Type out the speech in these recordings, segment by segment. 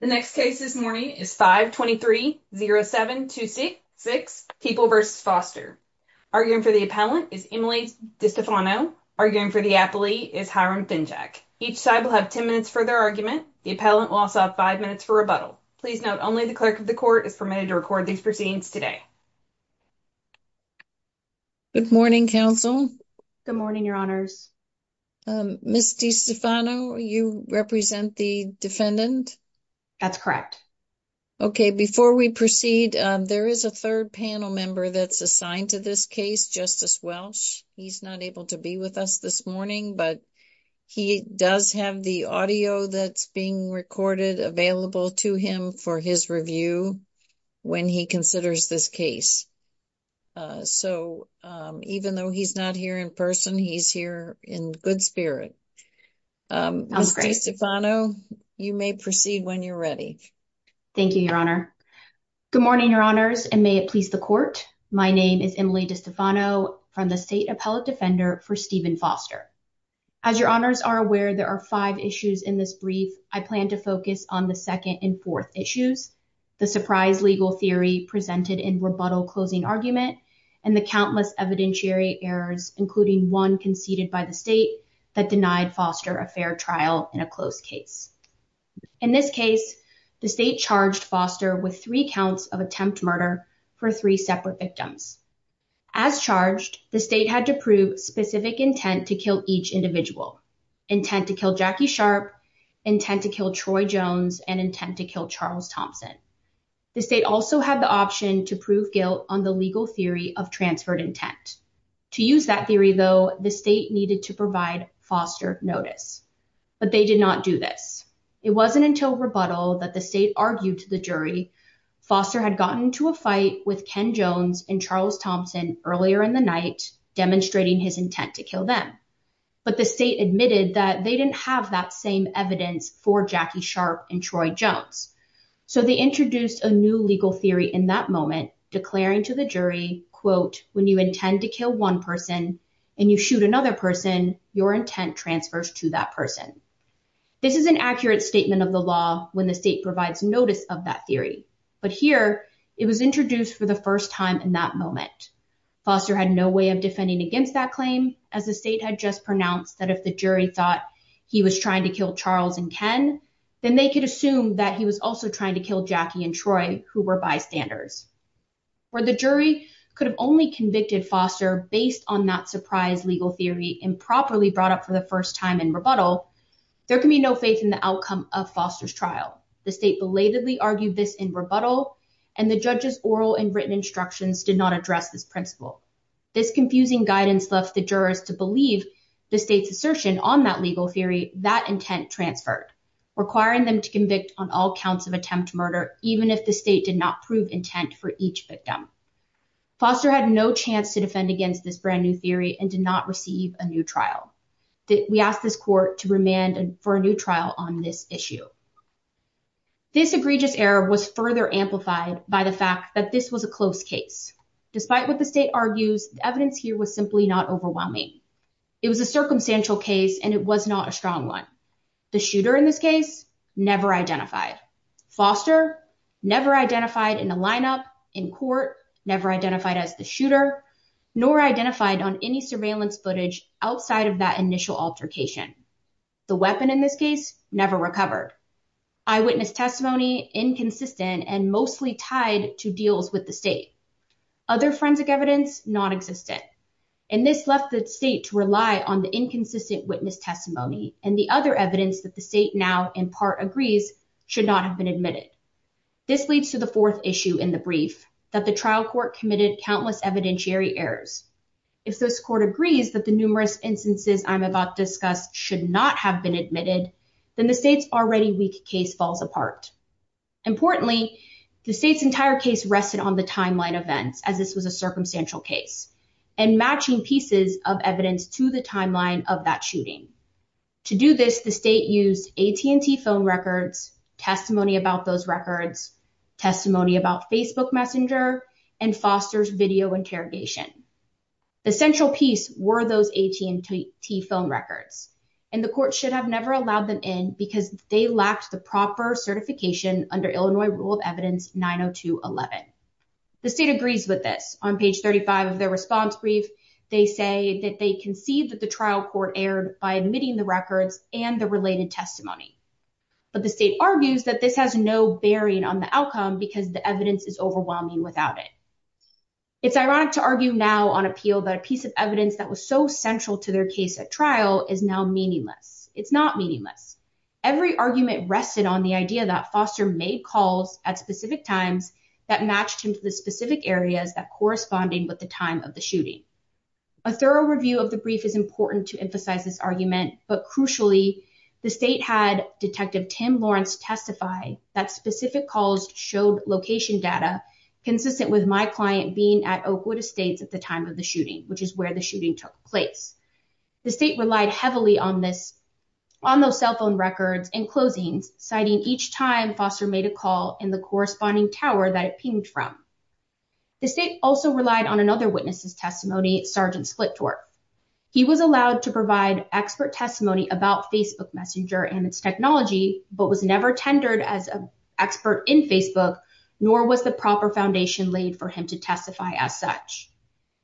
The next case this morning is 5-23-07-26 People v. Foster. Arguing for the appellant is Emily DiStefano. Arguing for the appellee is Hiram Fincak. Each side will have 10 minutes for their argument. The appellant will also have 5 minutes for rebuttal. Please note only the clerk of the court is permitted to record these proceedings today. Good morning, counsel. Good morning, your honors. Ms. DiStefano, you represent the defendant? That's correct. Okay, before we proceed, there is a third panel member that's assigned to this case, Justice Welch. He's not able to be with us this morning, but he does have the audio that's being recorded available to him for his review when he considers this case. So even though he's not here in person, he's here in good spirit. Ms. DiStefano, you may proceed when you're ready. Thank you, your honor. Good morning, your honors, and may it please the court. My name is Emily DiStefano from the State Appellate Defender for Stephen Foster. As your honors are aware, there are five issues in this brief. I plan to focus on the second and fourth issues, the surprise legal theory presented in rebuttal closing argument, and the countless evidentiary errors, including one conceded by the state that denied Foster a fair trial in a closed case. In this case, the state charged Foster with three counts of attempt murder for three separate victims. As charged, the state had to prove specific intent to kill each individual, intent to kill Jackie Sharp, intent to kill Troy Jones, and intent to kill Charles Thompson. The state also had the option to prove guilt on the legal theory of transferred intent. To use that theory, though, the state needed to provide Foster notice, but they did not do this. It wasn't until rebuttal that the state argued to the jury Foster had gotten into a fight with Ken Jones and Charles Thompson earlier in the night demonstrating his intent to kill them, but the state admitted that they didn't have that same evidence for Jackie Sharp and Troy Jones. So they introduced a new legal theory in that moment, declaring to the jury, quote, when you intend to kill one person and you shoot another person, your intent transfers to that person. This is an accurate statement of the law when the state provides notice of that theory, but here it was introduced for the first time in that moment. Foster had no way of defending against that claim, as the state had just pronounced that if the jury thought he was trying to kill Charles and Ken, then they could assume that he was also trying to kill Jackie and Troy, who were bystanders. Where the jury could have only convicted Foster based on that surprise legal theory improperly brought up for the first time in rebuttal, there can be no faith in the outcome of Foster's The state belatedly argued this in rebuttal, and the judge's oral and written instructions did not address this principle. This confusing guidance left the jurors to believe the state's assertion on that legal theory that intent transferred, requiring them to convict on all counts of attempt to each victim. Foster had no chance to defend against this brand new theory and did not receive a new trial. We asked this court to remand for a new trial on this issue. This egregious error was further amplified by the fact that this was a close case. Despite what the state argues, the evidence here was simply not overwhelming. It was a circumstantial case, and it was not a strong one. The shooter in this case never identified. Foster never identified in a lineup in court, never identified as the shooter, nor identified on any surveillance footage outside of that initial altercation. The weapon in this case never recovered. Eyewitness testimony inconsistent and mostly tied to deals with the state. Other forensic evidence non-existent. And this left the state to rely on the inconsistent witness testimony and the other evidence that the state now in part agrees should not have been admitted. This leads to the fourth issue in the brief that the trial court committed countless evidentiary errors. If this court agrees that the numerous instances I'm about discussed should not have been admitted, then the state's already weak case falls apart. Importantly, the state's entire case rested on the timeline events as this was a circumstantial case and matching pieces of evidence to the timeline of that shooting. To do this, the state used AT&T phone records, testimony about those records, testimony about Facebook Messenger, and Foster's video interrogation. The central piece were those AT&T phone records, and the court should have never allowed them in because they lacked the proper certification under Illinois Rule of Evidence 902.11. The state agrees with this. On page 35 of their response brief, they say that they concede that the trial court erred by admitting the records and the related testimony. But the state argues that this has no bearing on the outcome because the evidence is overwhelming without it. It's ironic to argue now on appeal that a piece of evidence that was so central to their case at trial is now meaningless. It's not meaningless. Every argument rested on the idea that Foster made calls at specific times that matched the specific areas that corresponded with the time of the shooting. A thorough review of the brief is important to emphasize this argument, but crucially, the state had Detective Tim Lawrence testify that specific calls showed location data consistent with my client being at Oakwood Estates at the time of the shooting, which is where the shooting took place. The state relied heavily on those cell phone records and closings, citing each time Foster made a call in the corresponding tower that it pinged from. The state also relied on another witness's testimony, Sgt. Splittorf. He was allowed to provide expert testimony about Facebook Messenger and its technology, but was never tendered as an expert in Facebook, nor was the proper foundation laid for him to testify as such.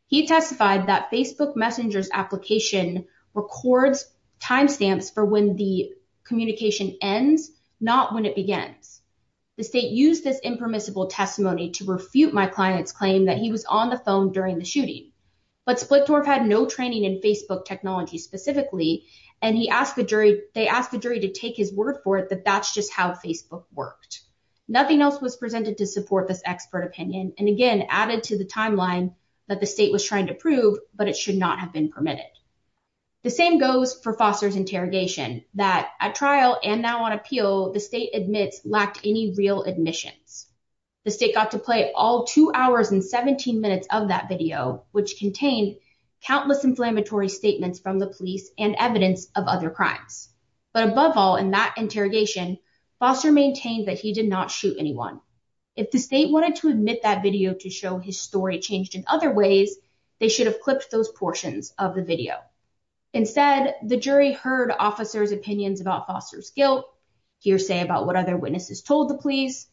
He testified that Facebook Messenger's application records timestamps for when the communication ends, not when it begins. The state used this impermissible testimony to refute my client's claim that he was on the phone during the shooting, but Splittorf had no training in Facebook technology specifically, and they asked the jury to take his word for it that that's just how Facebook worked. Nothing else was presented to support this expert opinion, and again, added to the timeline that the state was trying to prove, but it should not have been permitted. The same goes for Foster's interrogation, that at trial and now on appeal, the state admits lacked any real admissions. The state got to play all two hours and 17 minutes of that video, which contained countless inflammatory statements from the police and evidence of other crimes. But above all, in that interrogation, Foster maintained that he did not shoot anyone. If the state wanted to admit that video to show his story changed in other ways, they should have clipped those portions of the video. Instead, the jury heard officers' opinions about Foster's guilt, hearsay about what other witnesses told the police,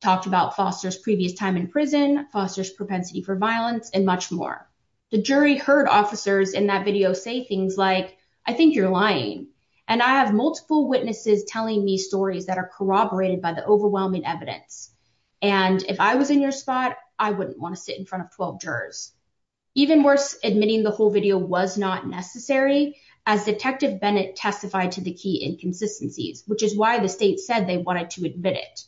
talked about Foster's previous time in prison, Foster's propensity for violence, and much more. The jury heard officers in that video say things like, I think you're lying, and I have multiple witnesses telling me stories that are corroborated by the overwhelming evidence, and if I was in your spot, I wouldn't want to sit in front of 12 jurors. Even worse, admitting the whole video was not necessary as Detective Bennett testified to the key inconsistencies, which is why the state said they wanted to admit it.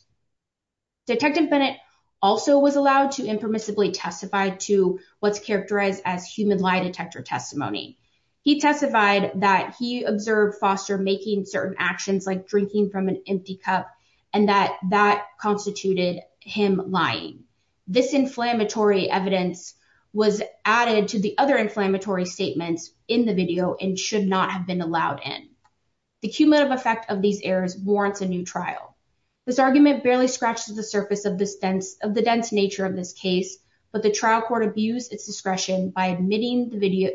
Detective Bennett also was allowed to impermissibly testify to what's characterized as human lie detector testimony. He testified that he observed Foster making certain actions like drinking from an empty cup and that that constituted him lying. This inflammatory evidence was added to the other inflammatory statements in the video and should not have been allowed in. The cumulative effect of these errors warrants a new trial. This argument barely scratches the surface of the dense nature of this case, but the trial court abused its discretion by admitting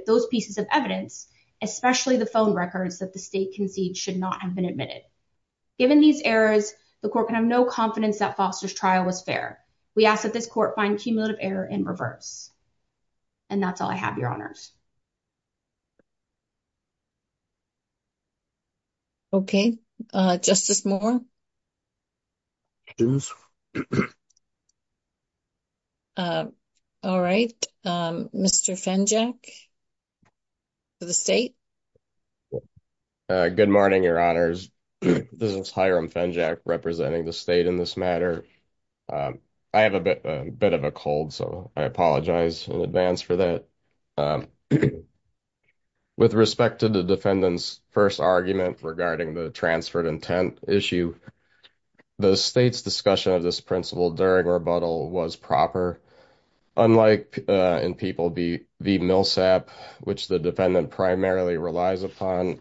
those pieces of evidence, especially the phone records that the state concedes should not have been admitted. Given these errors, the court can have no confidence that Foster's trial was fair. We ask that this court find cumulative error in reverse. And that's all I have, Your Honors. Okay, Justice Moore. All right, Mr. Fenjack, for the state. Good morning, Your Honors. This is Hiram Fenjack representing the state in this matter. I have a bit of a cold, so I apologize in advance for that. With respect to the defendant's first argument regarding the transferred intent issue, the state's discussion of this principle during rebuttal was proper. Unlike in People v. Millsap, which the defendant primarily relies upon,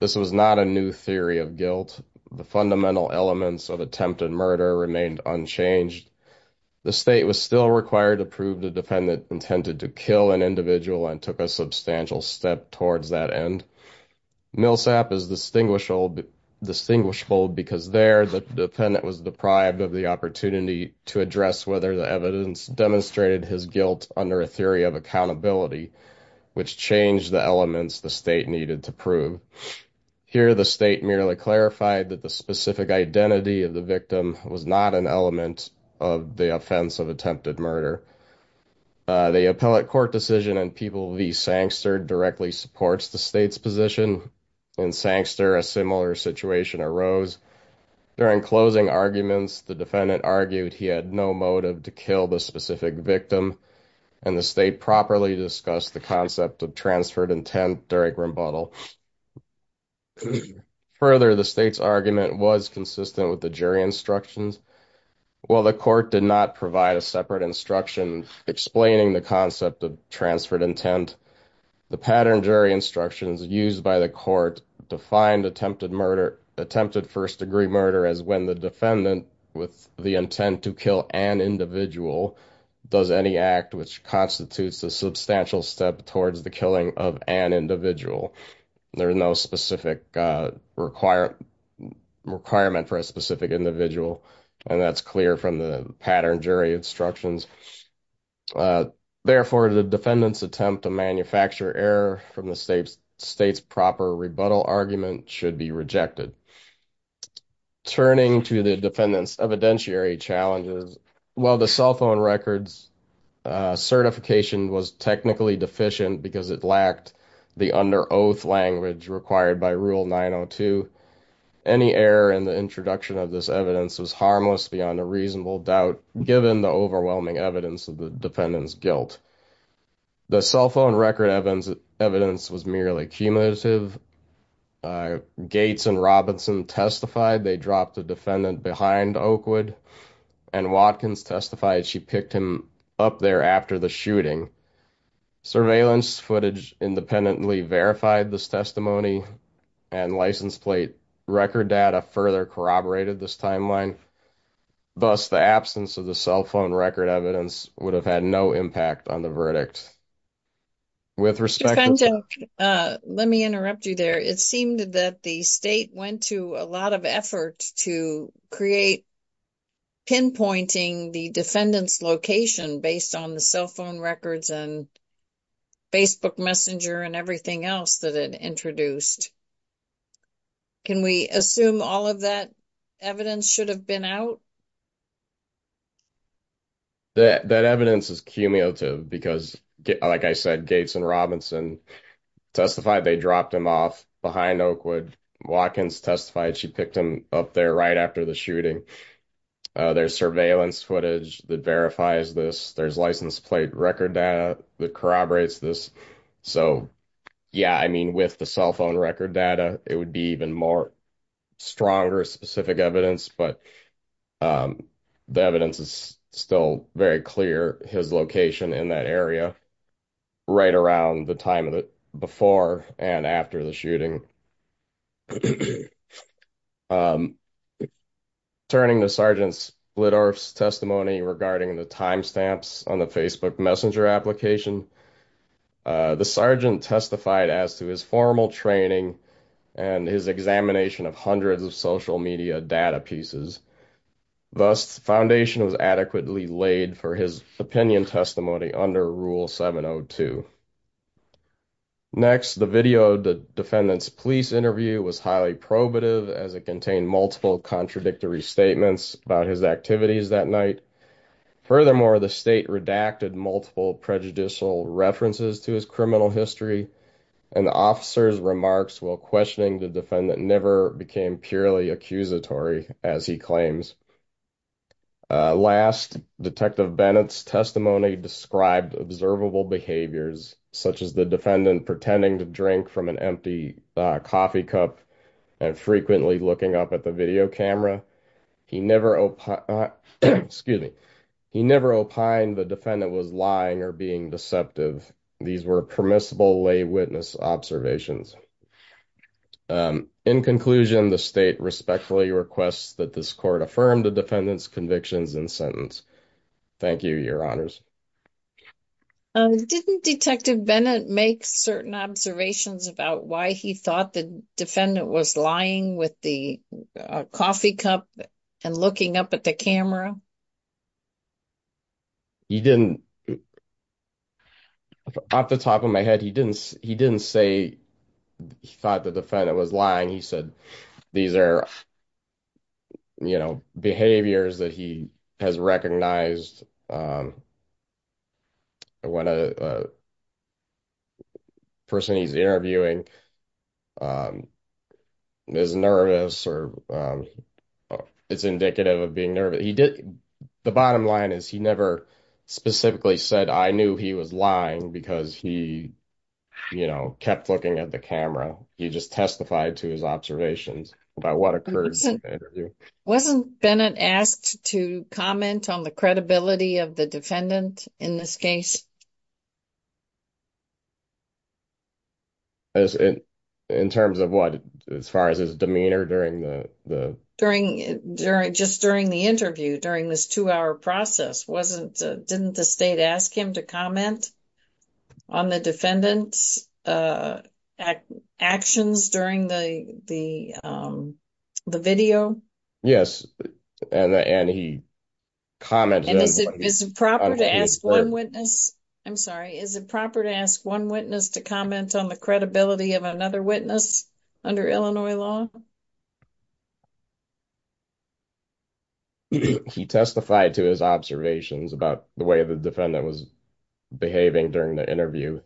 this was not a new theory of guilt. The fundamental elements of attempted murder remained unchanged. The state was still required to prove the defendant intended to kill an individual and took a substantial step towards that end. Millsap is distinguishable because there the defendant was deprived of the opportunity to address whether the evidence demonstrated his guilt under a theory of accountability, which changed the elements the state needed to prove. Here, the state merely clarified that the specific identity of the victim was not an element of the offense of attempted murder. The appellate court decision in People v. Sangster directly supports the state's position. In Sangster, a similar situation arose. During closing arguments, the defendant argued he had no motive to kill the specific victim, and the state properly discussed the concept of transferred intent during rebuttal. Further, the state's argument was consistent with the jury instructions. While the court did not provide a separate instruction explaining the concept of transferred intent, the patterned jury instructions used by the court defined attempted first-degree murder as when the defendant, with the intent to kill an individual, does any act which constitutes a substantial step towards the killing of an individual. There is no specific requirement for a specific individual, and that's clear from the patterned jury instructions. Therefore, the defendant's attempt to manufacture error from the state's proper rebuttal argument should be rejected. Turning to the defendant's evidentiary challenges, while the cell phone record's certification was technically deficient because it lacked the under-oath language required by Rule 902, any error in the introduction of this evidence was harmless beyond a reasonable doubt given the overwhelming evidence of the defendant's guilt. The cell phone record evidence was merely cumulative. Gates and Robinson testified they dropped the defendant behind Oakwood, and Watkins testified she picked him up there after the shooting. Surveillance footage independently verified this testimony, and license plate record data further corroborated this timeline. Thus, the absence of the cell phone record evidence would have had no impact on the verdict. With respect to- Mr. Fenton, let me interrupt you there. It seemed that the state went to a lot of effort to create pinpointing the defendant's location based on the cell phone records and Facebook messenger and everything else that it introduced. Can we assume all of that evidence should have been out? That evidence is cumulative because, like I said, Gates and Robinson testified they dropped the defendant behind Oakwood, and Watkins testified she picked him up there right after the shooting. There's surveillance footage that verifies this. There's license plate record data that corroborates this. So, yeah, I mean, with the cell phone record data, it would be even more stronger specific evidence, but the evidence is still very clear, his location in that area right around the before and after the shooting. Turning to Sergeant Splittorf's testimony regarding the timestamps on the Facebook messenger application, the sergeant testified as to his formal training and his examination of hundreds of social media data pieces. Thus, the foundation was adequately laid for his opinion testimony under Rule 702. Next, the video of the defendant's police interview was highly probative as it contained multiple contradictory statements about his activities that night. Furthermore, the state redacted multiple prejudicial references to his criminal history and the officer's remarks while questioning the defendant never became purely accusatory, as he claims. Last, Detective Bennett's testimony described observable behaviors, such as the defendant pretending to drink from an empty coffee cup and frequently looking up at the video camera. He never opined the defendant was lying or being deceptive. These were permissible lay witness observations. In conclusion, the state respectfully requests that this court affirm the defendant's convictions in sentence. Thank you, your honors. Didn't Detective Bennett make certain observations about why he thought the defendant was lying with the coffee cup and looking up at the camera? He didn't. Off the top of my head, he didn't. He didn't say he thought the defendant was lying. He said these are, you know, behaviors that he has recognized. When a person he's interviewing is nervous or it's indicative of being nervous. The bottom line is he never specifically said I knew he was lying because he, you know, kept looking at the camera. He just testified to his observations about what occurred. Wasn't Bennett asked to comment on the credibility of the defendant in this case? In terms of what? As far as his demeanor during the. During just during the interview during this two hour process wasn't didn't the state ask him to comment on the defendant's actions during the video? Yes, and he commented. And is it proper to ask one witness? I'm sorry. Is it proper to ask one witness to comment on the credibility of another witness under Illinois law? He testified to his observations about the way the defendant was behaving during the interview.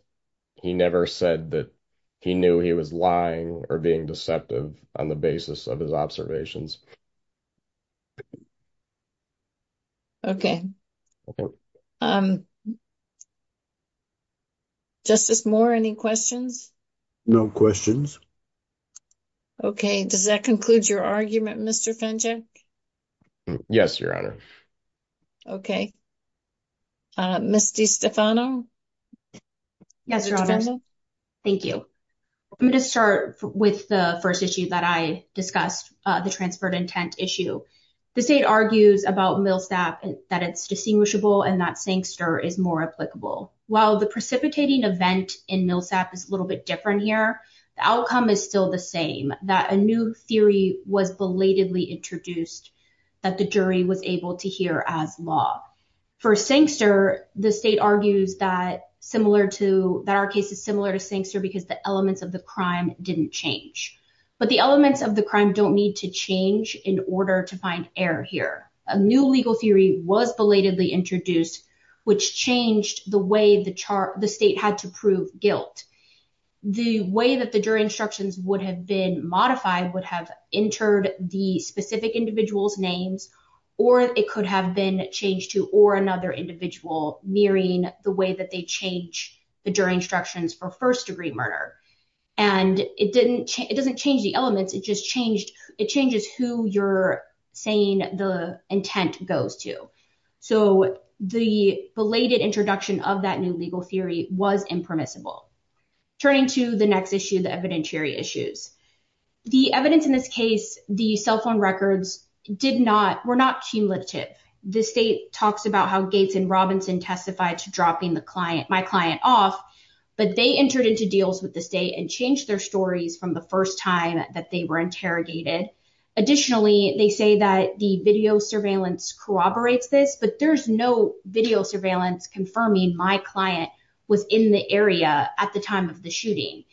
He never said that he knew he was lying or being deceptive on the basis of his observations. Okay. Justice more any questions? No questions. Okay, does that conclude your argument? Yes, your honor. Okay. Misty Stefano. Yes, your honor. Thank you. I'm going to start with the 1st issue that I discussed the transferred intent issue. The state argues about Millsap that it's distinguishable and that Sankster is more applicable while the precipitating event in Millsap is a little bit different here. The outcome is still the same that a new theory was belatedly introduced that the jury was able to hear as law for Sankster. The state argues that similar to that our case is similar to Sankster because the elements of the crime didn't change, but the elements of the crime don't need to change in order to find error here. A new legal theory was belatedly introduced, which changed the way the chart the state had to prove guilt. The way that the jury instructions would have been modified would have entered the specific individual's names, or it could have been changed to or another individual nearing the way that they change the jury instructions for first degree murder. And it didn't, it doesn't change the elements. It just changed. It changes who you're saying the intent goes to. So the belated introduction of that new legal theory was impermissible. Turning to the next issue, the evidentiary issues. The evidence in this case, the cell phone records did not, were not cumulative. The state talks about how Gates and Robinson testified to dropping the client, my client off, but they entered into deals with the state and changed their stories from the first time that they were interrogated. Additionally, they say that the video surveillance corroborates this, but there's no video confirming my client was in the area at the time of the shooting.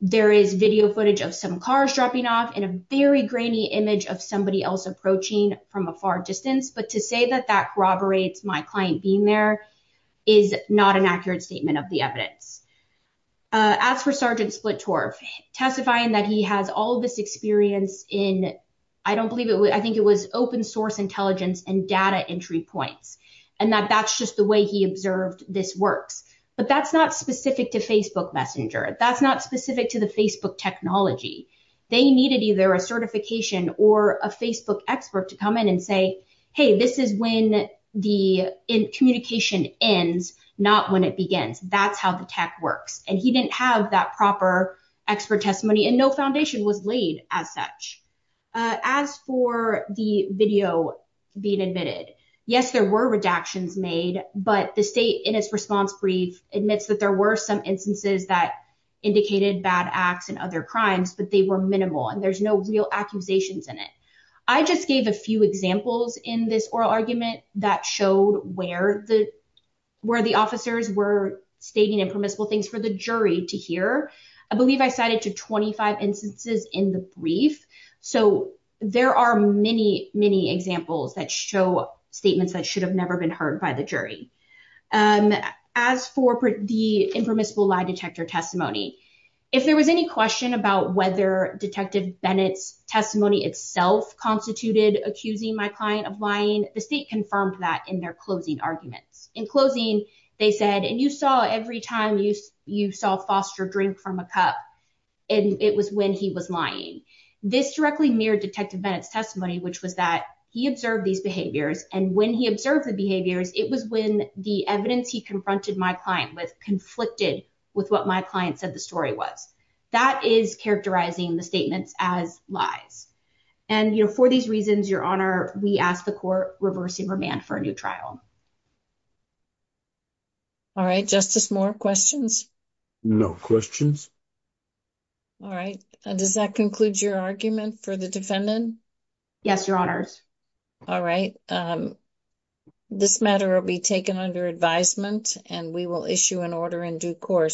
There is video footage of some cars dropping off in a very grainy image of somebody else approaching from a far distance. But to say that that corroborates my client being there is not an accurate statement of the evidence. As for Sergeant Splittorf testifying that he has all this experience in, I don't believe it. I think it was open source intelligence and data entry points. And that that's just the way he observed this works. But that's not specific to Facebook Messenger. That's not specific to the Facebook technology. They needed either a certification or a Facebook expert to come in and say, hey, this is when the communication ends, not when it begins. That's how the tech works. And he didn't have that proper expert testimony and no foundation was laid as such. As for the video being admitted, yes, there were redactions made, but the state in its response brief admits that there were some instances that indicated bad acts and other crimes, but they were minimal and there's no real accusations in it. I just gave a few examples in this oral argument that showed where the where the officers were stating impermissible things for the jury to hear. I believe I cited to 25 instances in the brief. So there are many, many examples that show statements that should have never been heard by the jury. As for the impermissible lie detector testimony, if there was any question about whether Detective Bennett's testimony itself constituted accusing my client of lying, the state confirmed that in their closing arguments. In closing, they said, and you saw every time you saw Foster drink from a cup, and it was when he was lying. This directly mirrored Detective Bennett's testimony, which was that he observed these And when he observed the behaviors, it was when the evidence he confronted my client with conflicted with what my client said the story was. That is characterizing the statements as lies. And for these reasons, Your Honor, we ask the court reversing remand for a new trial. All right, Justice Moore, questions? No questions. All right. Does that conclude your argument for the defendant? Yes, Your Honors. All right. This matter will be taken under advisement, and we will issue an order in due course.